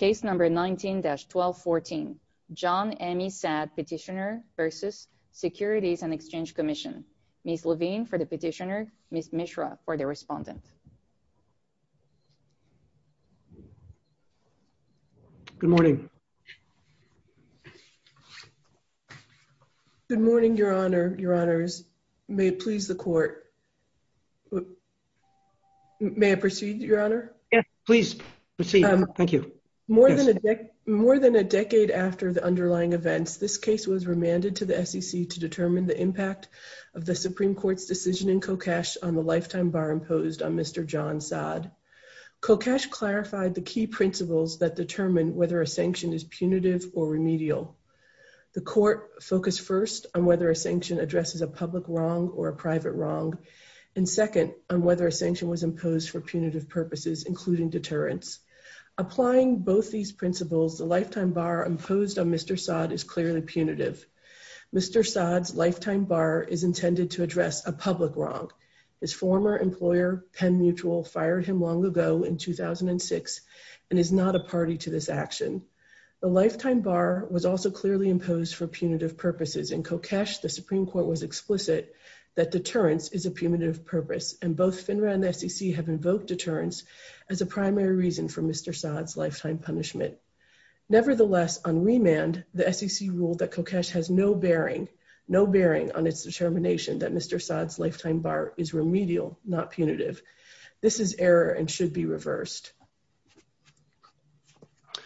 Ms. Levine for the petitioner, Ms. Mishra for the respondent. Good morning. Good morning, Your Honor, Your Honors. May it please the court. May I proceed, Your Honor? Yes, please proceed. Thank you. More than a decade after the underlying events, this case was remanded to the SEC to determine the impact of the Supreme Court's decision in Kokash on the lifetime bar imposed on Mr. John Saad. Kokash clarified the key principles that determine whether a sanction is punitive or remedial. The court focused first on whether a sanction addresses a public wrong or a private wrong, and second, on whether a sanction was imposed for punitive purposes, including deterrence. Applying both these principles, the lifetime bar imposed on Mr. Saad is clearly punitive. Mr. Saad's lifetime bar is intended to address a public wrong. His former employer, Penn Mutual, fired him long ago in 2006 and is not a party to this action. The lifetime bar was also clearly imposed for punitive purposes. In Kokash, the Supreme Court was explicit that deterrence is a punitive purpose, and both FINRA and the SEC have invoked deterrence as a primary reason for Mr. Saad's lifetime punishment. Nevertheless, on remand, the SEC ruled that Kokash has no bearing on its determination that Mr. Saad's lifetime bar is remedial, not punitive. This is error and should be reversed.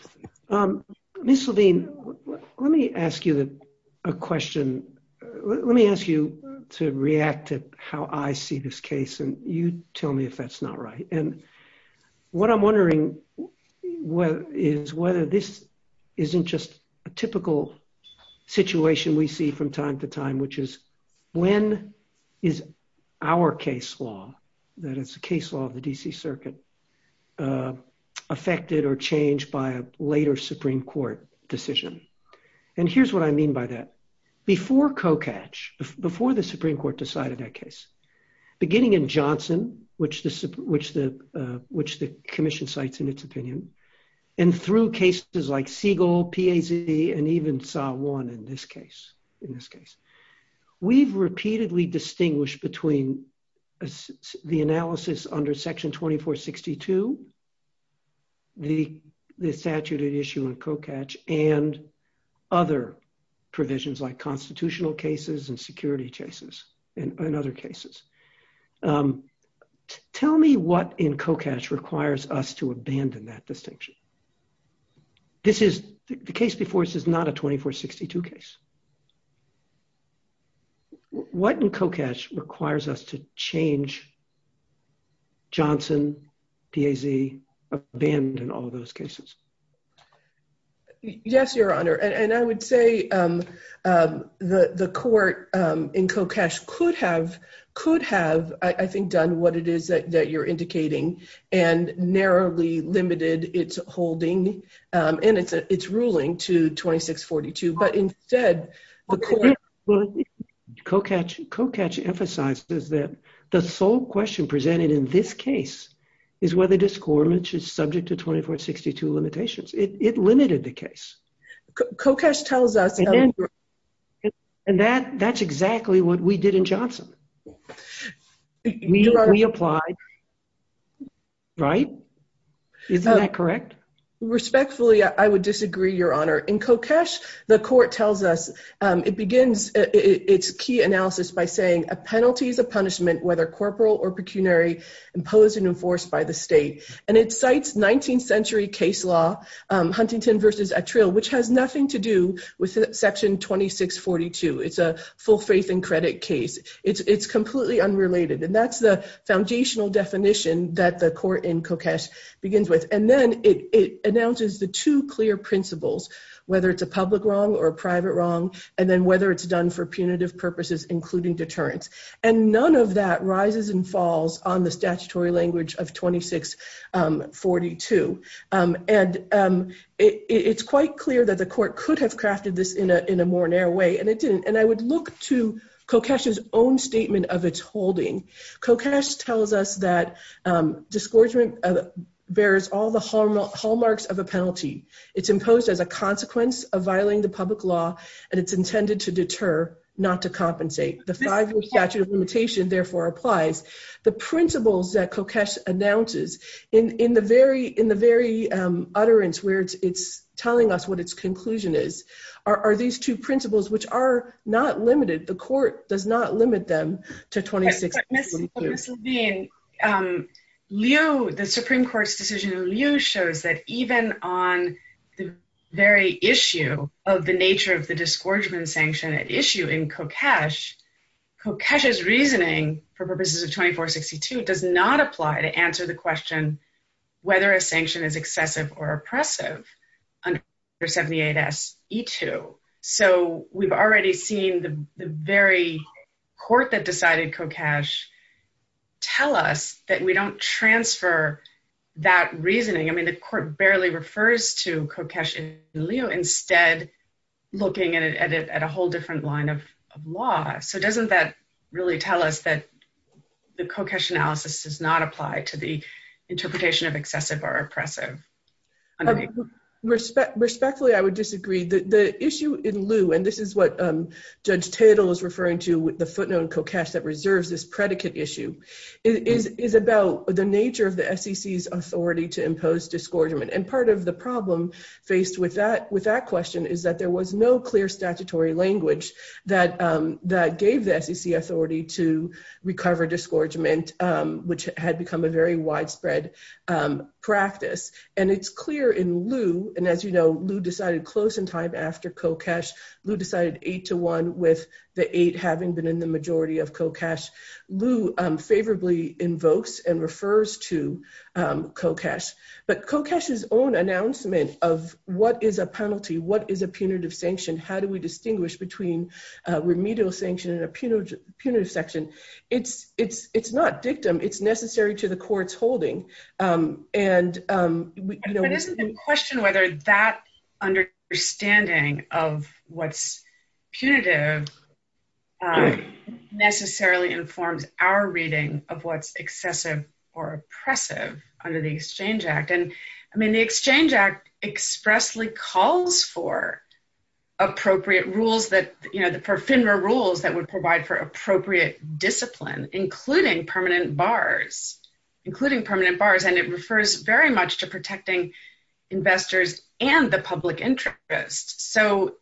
Thank you very much. Ms. Levine, let me ask you a question. Let me ask you to react to how I see this case, and you tell me if that's not right. What I'm wondering is whether this isn't just a typical situation we see from time to time, which is when is our case law, that is the case law of the D.C. Circuit, affected or changed by a later Supreme Court decision? And here's what I mean by that. Before Kokash, before the Supreme Court decided that case, beginning in Johnson, which the Commission cites in its opinion, and through cases like Siegel, PAZ, and even SAW 1 in this case, we've repeatedly distinguished between the analysis under Section 2462, the statute at issue in Kokash, and other provisions like constitutional cases and security cases and other cases. Tell me what in Kokash requires us to abandon that distinction. The case before us is not a 2462 case. What in Kokash requires us to change Johnson, PAZ, abandon all those cases? Yes, Your Honor. And I would say the court in Kokash could have, I think, done what it is that you're indicating and narrowly limited its holding and its ruling to 2642. Kokash emphasizes that the sole question presented in this case is whether this court, which is subject to 2462 limitations. It limited the case. Kokash tells us... And that's exactly what we did in Johnson. We applied, right? Isn't that correct? Respectfully, I would disagree, Your Honor. In Kokash, the court tells us, it begins its key analysis by saying a penalty is a punishment, whether corporal or pecuniary, imposed and enforced by the state. And it cites 19th century case law, Huntington v. Attrill, which has nothing to do with Section 2642. It's a full faith and credit case. It's completely unrelated. And that's the foundational definition that the court in Kokash begins with. And then it announces the two clear principles, whether it's a public wrong or a private wrong, and then whether it's done for punitive purposes, including deterrence. And none of that rises and falls on the statutory language of 2642. And it's quite clear that the court could have crafted this in a more narrow way, and it didn't. And I would look to Kokash's own statement of its holding. Kokash tells us that disgorgement bears all the hallmarks of a penalty. It's imposed as a consequence of violating the public law, and it's intended to deter, not to compensate. The five-year statute of limitation, therefore, applies. The principles that Kokash announces in the very utterance where it's telling us what its conclusion is, are these two principles, which are not limited. The court does not limit them to 2642. Ms. Levine, the Supreme Court's decision in Liu shows that even on the very issue of the nature of the disgorgement sanction at issue in Kokash, Kokash's reasoning for purposes of 2462 does not apply to answer the question whether a sanction is excessive or oppressive under 78S. So we've already seen the very court that decided Kokash tell us that we don't transfer that reasoning. I mean, the court barely refers to Kokash in Liu, instead looking at a whole different line of law. So doesn't that really tell us that the Kokash analysis does not apply to the interpretation of excessive or oppressive? Respectfully, I would disagree. The issue in Liu, and this is what Judge Tatel is referring to with the footnote in Kokash that reserves this predicate issue, is about the nature of the SEC's authority to impose disgorgement. And part of the problem faced with that question is that there was no clear statutory language that gave the SEC authority to recover disgorgement, which had become a very widespread practice. And it's clear in Liu, and as you know, Liu decided close in time after Kokash. Liu decided 8-1 with the 8 having been in the majority of Kokash. Liu favorably invokes and refers to Kokash. But Kokash's own announcement of what is a penalty, what is a punitive sanction, how do we distinguish between remedial sanction and a punitive sanction, it's not dictum, it's necessary to the court's holding. But isn't in question whether that understanding of what's punitive necessarily informs our reading of what's excessive or oppressive under the Exchange Act. And, I mean, the Exchange Act expressly calls for appropriate rules that, you know, for FINRA rules that would provide for appropriate discipline, including permanent bars, including permanent bars. And it refers very much to protecting investors and the public interest. So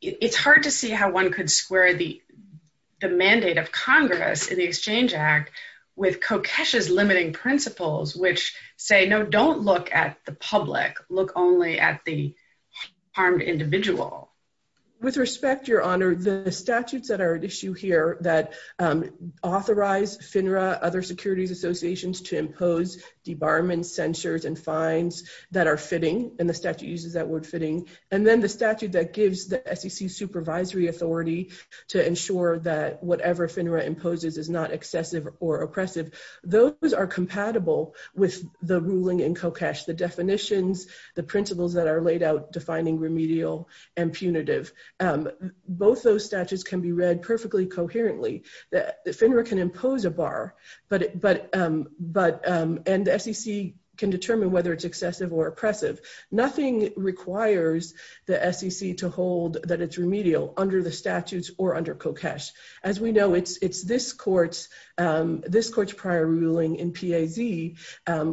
it's hard to see how one could square the mandate of Congress in the Exchange Act with Kokash's limiting principles, which say, no, don't look at the public, look only at the harmed individual. With respect, Your Honor, the statutes that are at issue here that authorize FINRA, other securities associations to impose debarment, censures, and fines that are fitting, and the statute uses that word fitting. And then the statute that gives the SEC supervisory authority to ensure that whatever FINRA imposes is not excessive or oppressive. Those are compatible with the ruling in Kokash, the definitions, the principles that are laid out defining remedial and punitive. Both those statutes can be read perfectly coherently. FINRA can impose a bar, and the SEC can determine whether it's excessive or oppressive. Nothing requires the SEC to hold that it's remedial under the statutes or under Kokash. As we know, it's this court's prior ruling in PAZ,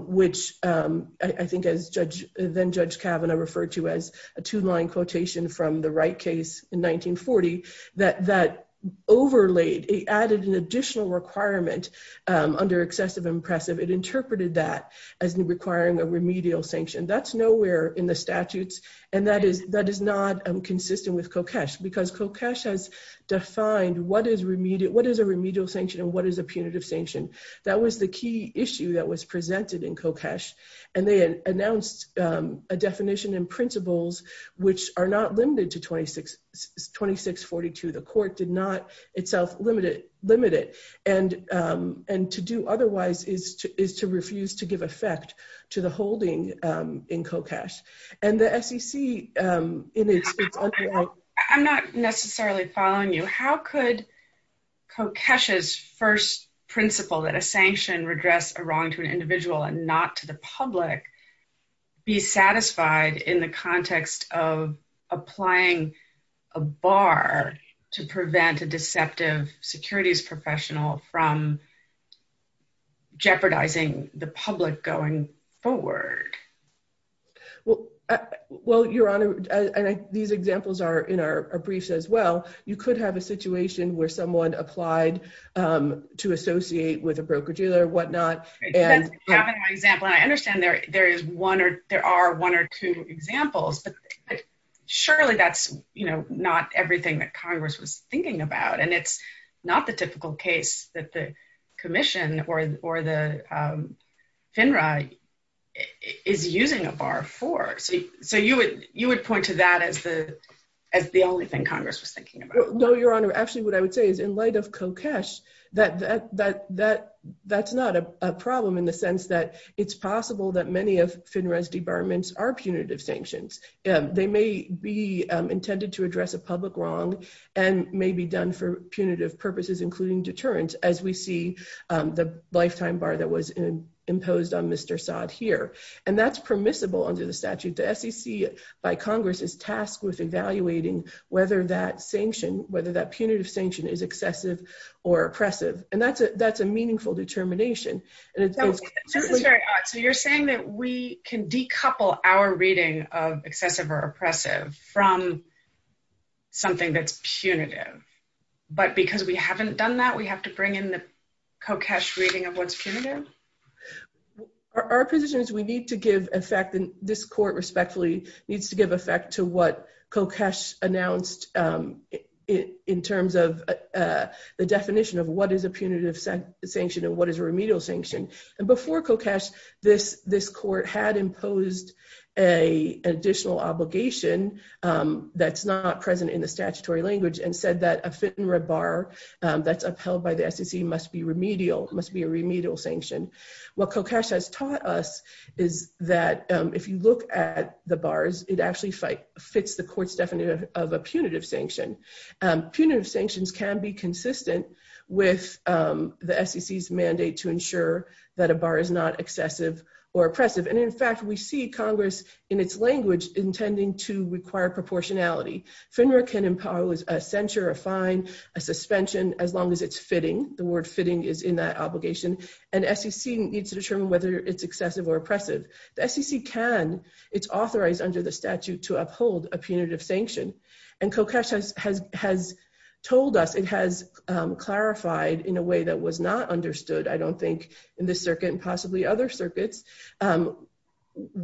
which I think as then-Judge Kavanaugh referred to as a two-line quotation from the Wright case in 1940, that overlaid, it added an additional requirement under excessive and oppressive. It interpreted that as requiring a remedial sanction. That's nowhere in the statutes, and that is not consistent with Kokash because Kokash has defined what is a remedial sanction and what is a punitive sanction. That was the key issue that was presented in Kokash, and they announced a definition and principles which are not limited to 2642. The court did not itself limit it, and to do otherwise is to refuse to give effect to the holding in Kokash. I'm not necessarily following you. How could Kokash's first principle that a sanction redress a wrong to an individual and not to the public be satisfied in the context of applying a bar to prevent a deceptive securities professional from jeopardizing the public going forward? Well, Your Honor, these examples are in our briefs as well. You could have a situation where someone applied to associate with a broker-dealer or whatnot. I understand there are one or two examples, but surely that's not everything that Congress was thinking about. And it's not the typical case that the commission or the FINRA is using a bar for. So you would point to that as the only thing Congress was thinking about. No, Your Honor. Actually, what I would say is in light of Kokash, that's not a problem in the sense that it's possible that many of FINRA's debarments are punitive sanctions. They may be intended to address a public wrong and may be done for punitive purposes, including deterrence, as we see the lifetime bar that was imposed on Mr. Saad here. And that's permissible under the statute. The SEC by Congress is tasked with evaluating whether that sanction, whether that punitive sanction is excessive or oppressive. And that's a meaningful determination. So you're saying that we can decouple our reading of excessive or oppressive from something that's punitive. But because we haven't done that, we have to bring in the Kokash reading of what's punitive? Our position is we need to give effect, and this court respectfully needs to give effect to what Kokash announced in terms of the definition of what is a punitive sanction and what is a remedial sanction. And before Kokash, this court had imposed an additional obligation that's not present in the statutory language and said that a FINRA bar that's upheld by the SEC must be a remedial sanction. What Kokash has taught us is that if you look at the bars, it actually fits the court's definition of a punitive sanction. Punitive sanctions can be consistent with the SEC's mandate to ensure that a bar is not excessive or oppressive. And in fact, we see Congress in its language intending to require proportionality. FINRA can impose a censure, a fine, a suspension, as long as it's fitting. The word fitting is in that obligation. And SEC needs to determine whether it's excessive or oppressive. The SEC can. It's authorized under the statute to uphold a punitive sanction. And Kokash has told us, it has clarified in a way that was not understood, I don't think, in this circuit and possibly other circuits, how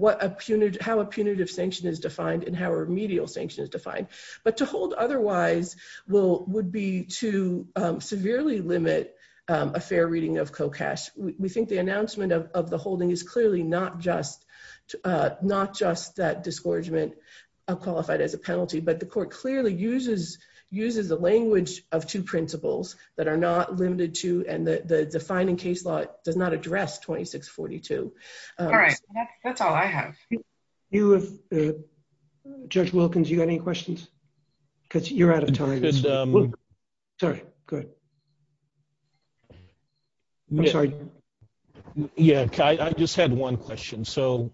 a punitive sanction is defined and how a remedial sanction is defined. But to hold otherwise would be to severely limit a fair reading of Kokash. We think the announcement of the holding is clearly not just that disgorgement qualified as a penalty, but the court clearly uses the language of two principles that are not limited to and the defining case law does not address 2642. All right. That's all I have. Judge Wilkins, you got any questions? Because you're out of time. Sorry. Good. I'm sorry. Yeah, I just had one question. So,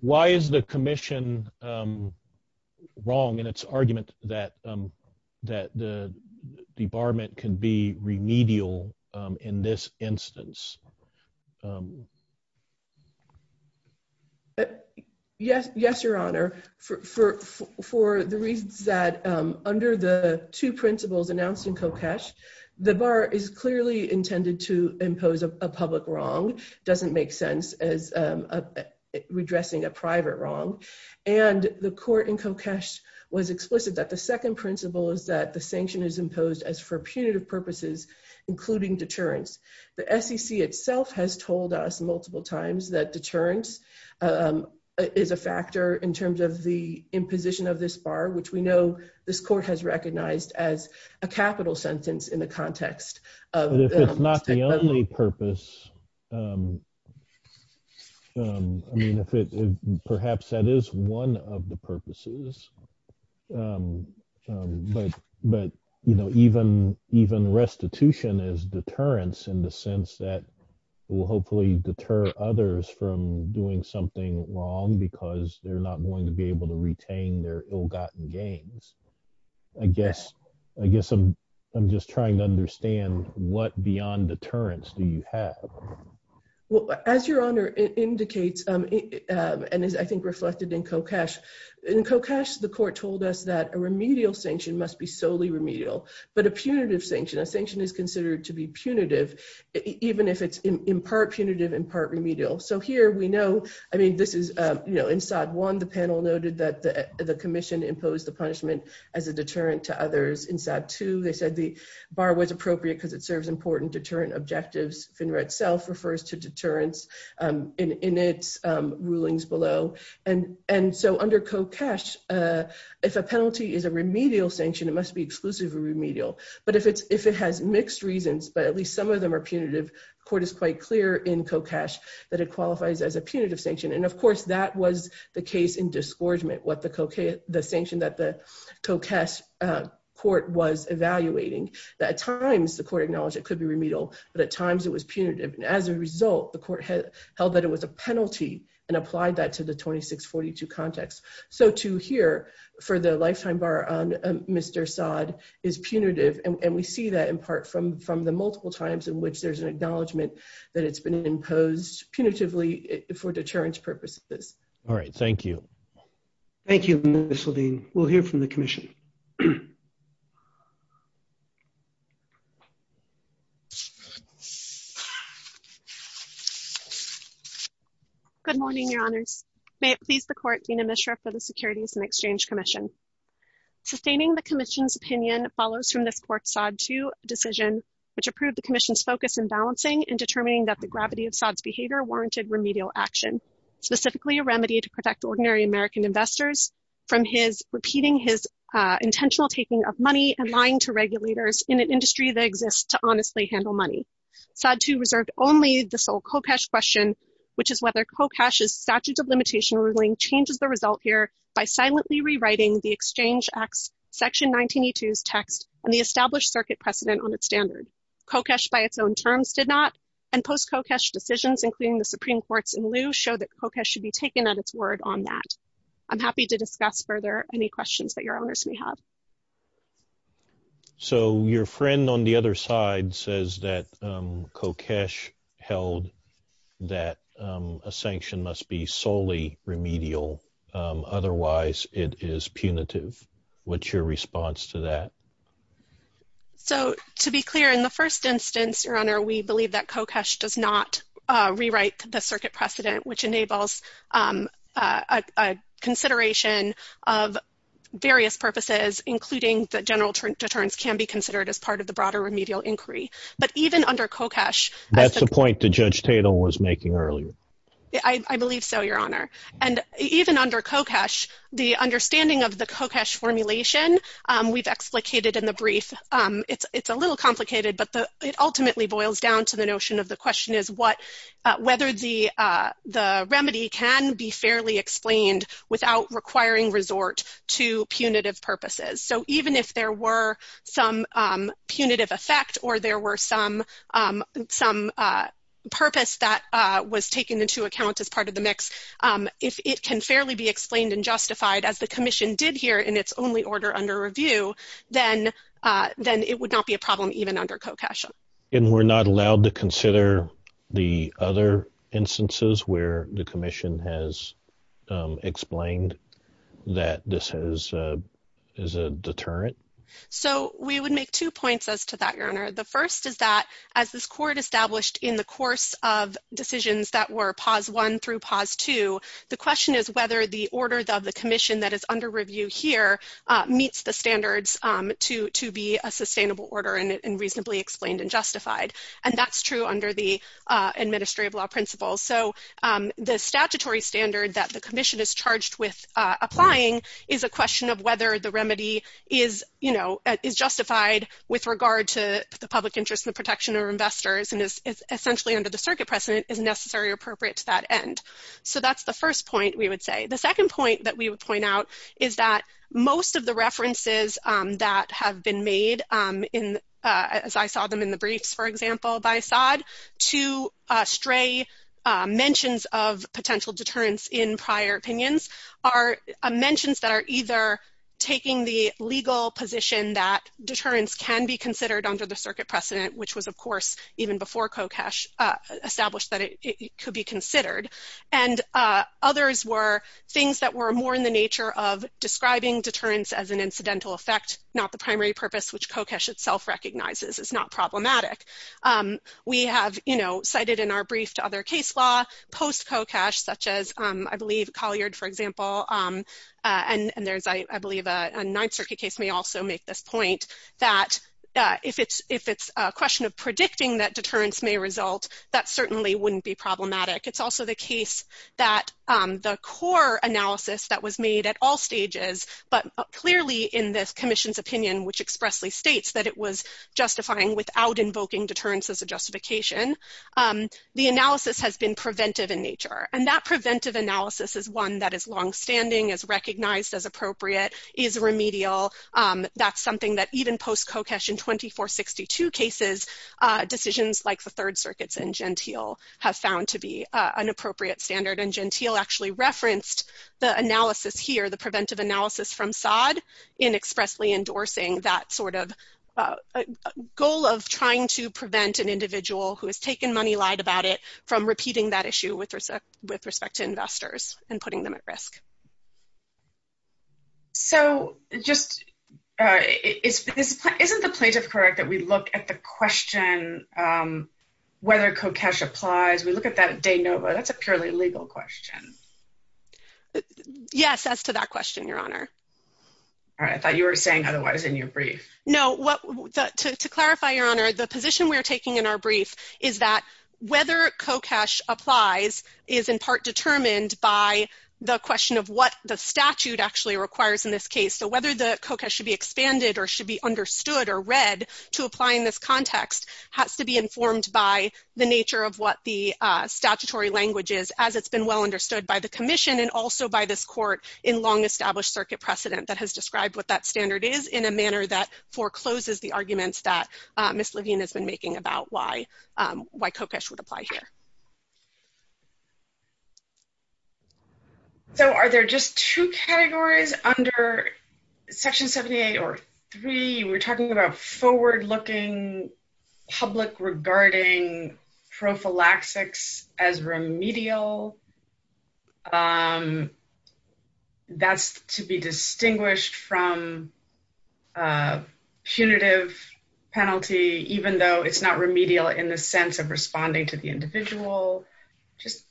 why is the commission wrong in its argument that the debarment can be remedial in this instance? Yes, Your Honor. For the reasons that under the two principles announced in Kokash, the bar is clearly intended to impose a public wrong, doesn't make sense as redressing a private wrong. And the court in Kokash was explicit that the second principle is that the sanction is imposed as for punitive purposes, including deterrence. The SEC itself has told us multiple times that deterrence is a factor in terms of the imposition of this bar, which we know this court has recognized as a capital sentence in the context. If it's not the only purpose, perhaps that is one of the purposes. But, you know, even restitution is deterrence in the sense that it will hopefully deter others from doing something wrong because they're not going to be able to retain their ill-gotten gains. I guess I'm just trying to understand what beyond deterrence do you have? Well, as Your Honor indicates, and is I think reflected in Kokash, in Kokash, the court told us that a remedial sanction must be solely remedial, but a punitive sanction, a sanction is considered to be punitive, even if it's in part punitive, in part remedial. So here we know, I mean, this is, you know, in SOD 1, the panel noted that the commission imposed the punishment as a deterrent to others. In SOD 2, they said the bar was appropriate because it serves important deterrent objectives. FINRA itself refers to deterrence in its rulings below. And so under Kokash, if a penalty is a remedial sanction, it must be exclusively remedial. But if it has mixed reasons, but at least some of them are punitive, the court is quite clear in Kokash that it qualifies as a punitive sanction. And, of course, that was the case in disgorgement, the sanction that the Kokash court was evaluating, that at times the court acknowledged it could be remedial, but at times it was punitive. And as a result, the court held that it was a penalty and applied that to the 2642 context. So to hear for the lifetime bar on Mr. Sod is punitive, and we see that in part from the multiple times in which there's an acknowledgement that it's been imposed punitively for deterrence purposes. All right. Thank you. Thank you, Ms. Haldane. We'll hear from the commission. Good morning, Your Honors. May it please the court, Dean Mishra for the Securities and Exchange Commission. Sustaining the commission's opinion follows from this court's Sod 2 decision, which approved the commission's focus in balancing and determining that the gravity of Sod's behavior warranted remedial action, specifically a remedy to protect ordinary American investors from his, repeating his intention to be a of money and lying to regulators in an industry that exists to honestly handle money. Sod 2 reserved only the sole Kokash question, which is whether Kokash's statute of limitation ruling changes the result here by silently rewriting the Exchange Act's section 1982's text and the established circuit precedent on its standard. Kokash by its own terms did not, and post-Kokash decisions, including the Supreme Court's in lieu, show that Kokash should be taken at its word on that. I'm happy to discuss further any questions that your owners may have. So your friend on the other side says that Kokash held that a sanction must be solely remedial. Otherwise, it is punitive. What's your response to that? So to be clear, in the first instance, Your Honor, we believe that Kokash does not rewrite the circuit precedent, which enables a consideration of various purposes, including that general deterrence can be considered as part of the broader remedial inquiry. But even under Kokash That's the point that Judge Tatum was making earlier. I believe so, Your Honor. And even under Kokash, the understanding of the Kokash formulation we've explicated in the brief, it's a little complicated, but it ultimately boils down to the notion of the question is whether the remedy can be fairly explained without requiring resort to punitive purposes. So even if there were some punitive effect or there were some purpose that was taken into account as part of the mix, if it can fairly be explained and justified, as the Commission did here in its only order under review, then it would not be a problem even under Kokash. And we're not allowed to consider the other instances where the Commission has explained that this is a deterrent? So we would make two points as to that, Your Honor. The first is that as this Court established in the course of decisions that were POS 1 through POS 2, the question is whether the order of the Commission that is under review here meets the standards to be a sustainable order and reasonably explained and justified. And that's true under the administrative law principles. So the statutory standard that the Commission is charged with applying is a question of whether the remedy is justified with regard to the public interest in the protection of investors and is essentially under the circuit precedent is necessary or appropriate to that end. So that's the first point we would say. The second point that we would point out is that most of the references that have been made in, as I saw them in the briefs, for example, by Saad to stray mentions of potential deterrence in prior opinions are mentions that are either taking the legal position that deterrence can be considered under the circuit precedent, which was, of course, even before Kokash established that it could be considered. And others were things that were more in the nature of describing deterrence as an incidental effect, not the primary purpose, which Kokash itself recognizes is not problematic. We have, you know, cited in our brief to other case law post-Kokash, such as I believe Collier, for example, and there's, I believe, a Ninth Circuit case may also make this point that if it's a question of predicting that deterrence may result, that certainly wouldn't be problematic. It's also the case that the core analysis that was made at all stages, but clearly in this commission's opinion, which expressly states that it was justifying without invoking deterrence as a justification, the analysis has been preventive in nature. And that preventive analysis is one that is longstanding, is recognized as appropriate, is remedial. That's something that even post-Kokash in 2462 cases, decisions like the Third Circuits and Gentile have found to be an appropriate standard. And Gentile actually referenced the analysis here, the preventive analysis from Sod in expressly endorsing that sort of goal of trying to prevent an individual who has taken money lide about it from repeating that issue with respect to investors and putting them at risk. So just isn't the plaintiff correct that we look at the question, whether Kokesh applies, we look at that de novo, that's a purely legal question. Yes, as to that question, Your Honor. I thought you were saying otherwise in your brief. No, to clarify, Your Honor, the position we're taking in our brief is that whether Kokesh applies is in part determined by the question of what the statute actually requires in this case. So whether the Kokesh should be expanded or should be understood or read to apply in this context has to be informed by the nature of what the statutory language is as it's been well understood by the commission and also by this court in long established circuit precedent that has described what that standard is in a manner that forecloses the arguments that Ms. Levine has been making about why Kokesh would apply here. So are there just two categories under Section 78 or three? We're talking about forward looking public regarding prophylaxis as remedial. That's to be distinguished from punitive penalty, even though it's not remedial in the sense of responding to the individual. Just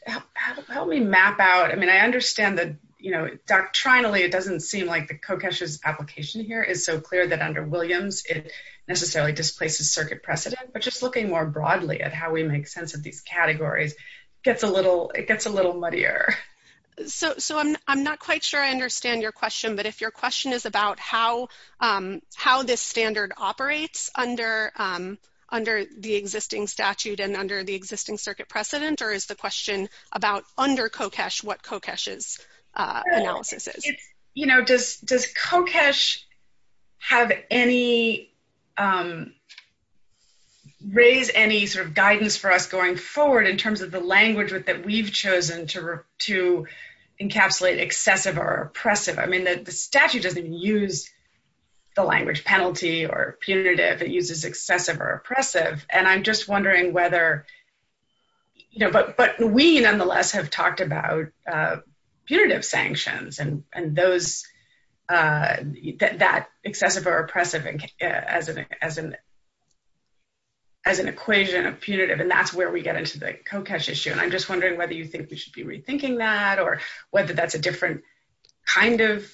help me map out. I mean, I understand that, you know, doctrinally, it doesn't seem like the Kokesh's application here is so clear that under Williams, it necessarily displaces circuit precedent. But just looking more broadly at how we make sense of these categories gets a little, it gets a little muddier. So I'm not quite sure I understand your question, but if your question is about how this standard operates under the existing statute and under the existing circuit precedent or is the question about under Kokesh what Kokesh's analysis is? Does Kokesh have any, raise any sort of guidance for us going forward in terms of the language that we've chosen to encapsulate excessive or oppressive? I mean, the statute doesn't use the language penalty or punitive, it uses excessive or oppressive. And I'm just wondering whether, you know, but we nonetheless have talked about punitive sanctions and those, that excessive or oppressive as an equation of punitive and that's where we get into the Kokesh issue. And I'm just wondering whether you think we should be rethinking that or whether that's a different kind of,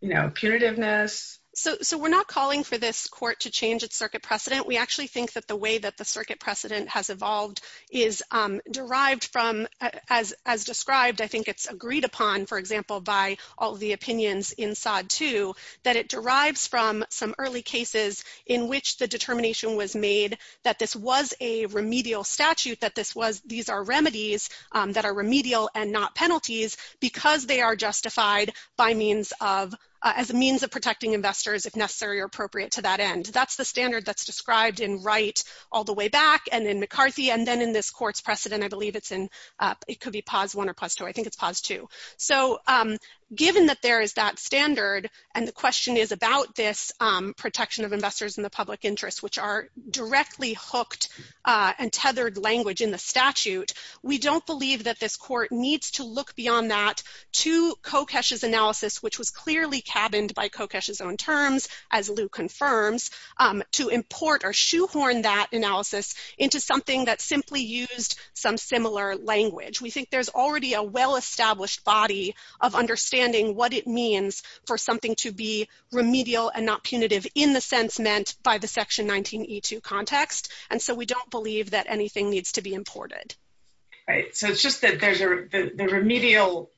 you know, punitiveness? So we're not calling for this court to change its circuit precedent. We actually think that the way that the circuit precedent has evolved is derived from, as described, I think it's agreed upon, for example, by all the opinions in SOD 2, that it derives from some early cases in which the determination was made that this was a remedial statute, that this was, these are remedies that are remedial and not penalties because they are justified by means of, as a means of protecting investors if necessary or appropriate to that end. That's the standard that's described in Wright all the way back and in McCarthy and then in this court's precedent, I believe it's in, it could be POS 1 or POS 2, I think it's POS 2. So given that there is that standard and the question is about this protection of investors in the public interest, which are directly hooked and tethered language in the statute, we don't believe that this court needs to look beyond that to Kokesh's analysis, which was clearly cabined by Kokesh's own terms, as Lou confirms, to import or shoehorn that analysis into something that simply used some similar language. We think there's already a well-established body of understanding what it means for something to be remedial and not punitive in the sense meant by the Section 19E2 context, and so we don't believe that anything needs to be imported. Right. So it's just that there's a remedial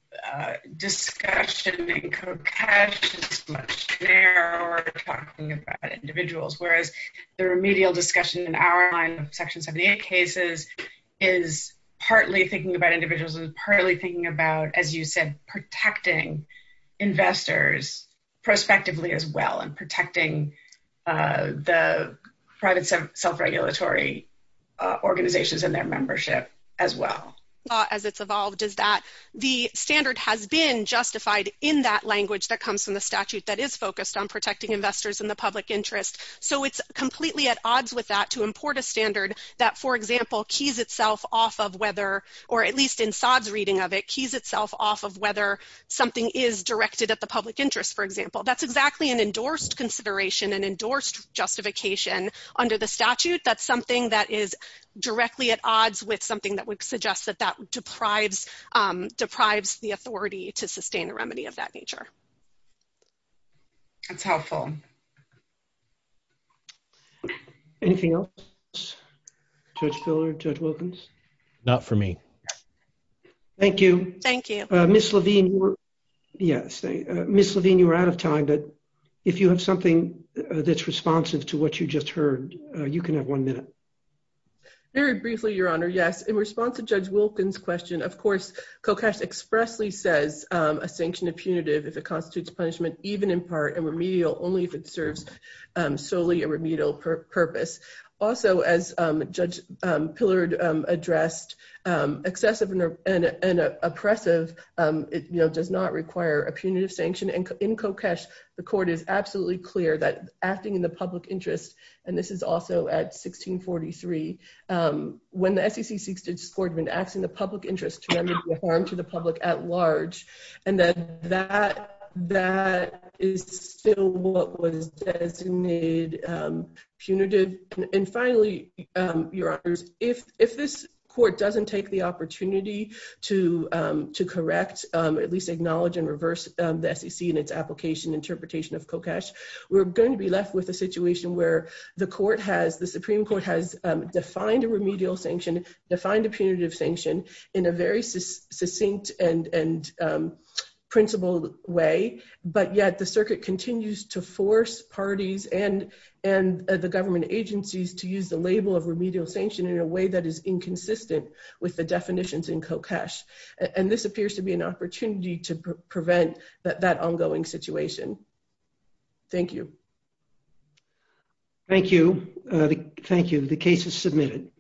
discussion in Kokesh's questionnaire where we're talking about individuals, whereas the remedial discussion in our line of Section 78 cases is partly thinking about individuals and partly thinking about, as you said, protecting investors prospectively as well and protecting the private self-regulatory organizations and their membership. As it's evolved is that the standard has been justified in that language that comes from the statute that is focused on protecting investors in the public interest. So it's completely at odds with that to import a standard that, for example, keys itself off of whether, or at least in Saad's reading of it, keys itself off of whether something is directed at the public interest, for example. That's exactly an endorsed consideration, an endorsed justification under the statute. That's something that is directly at odds with something that would suggest that that deprives the authority to sustain a remedy of that nature. That's helpful. Anything else? Judge Filler, Judge Wilkins? Not for me. Thank you. Thank you. Ms. Levine, you were out of time, but if you have something that's responsive to what you just heard, you can have one minute. Very briefly, Your Honor, yes. In response to Judge Wilkins' question, of course, Kokesh expressly says a sanction is punitive if it constitutes punishment, even in part, and remedial only if it serves solely a remedial purpose. Also, as Judge Pillard addressed, excessive and oppressive does not require a punitive sanction. In Kokesh, the court is absolutely clear that acting in the public interest, and this is also at 1643, when the SEC seeks to discord and acts in the public interest to remedy harm to the public at large, and that that is still what was designated punitive. And finally, Your Honors, if this court doesn't take the opportunity to correct, at least acknowledge and reverse the SEC and its application interpretation of Kokesh, we're going to be left with a situation where the Supreme Court has defined a remedial sanction, defined a punitive sanction in a very succinct and principled way, but yet the circuit continues to force parties and the government agencies to use the label of remedial sanction in a way that is inconsistent with the definitions in Kokesh. And this appears to be an opportunity to prevent that ongoing situation. Thank you. Thank you. Thank you. The case is submitted.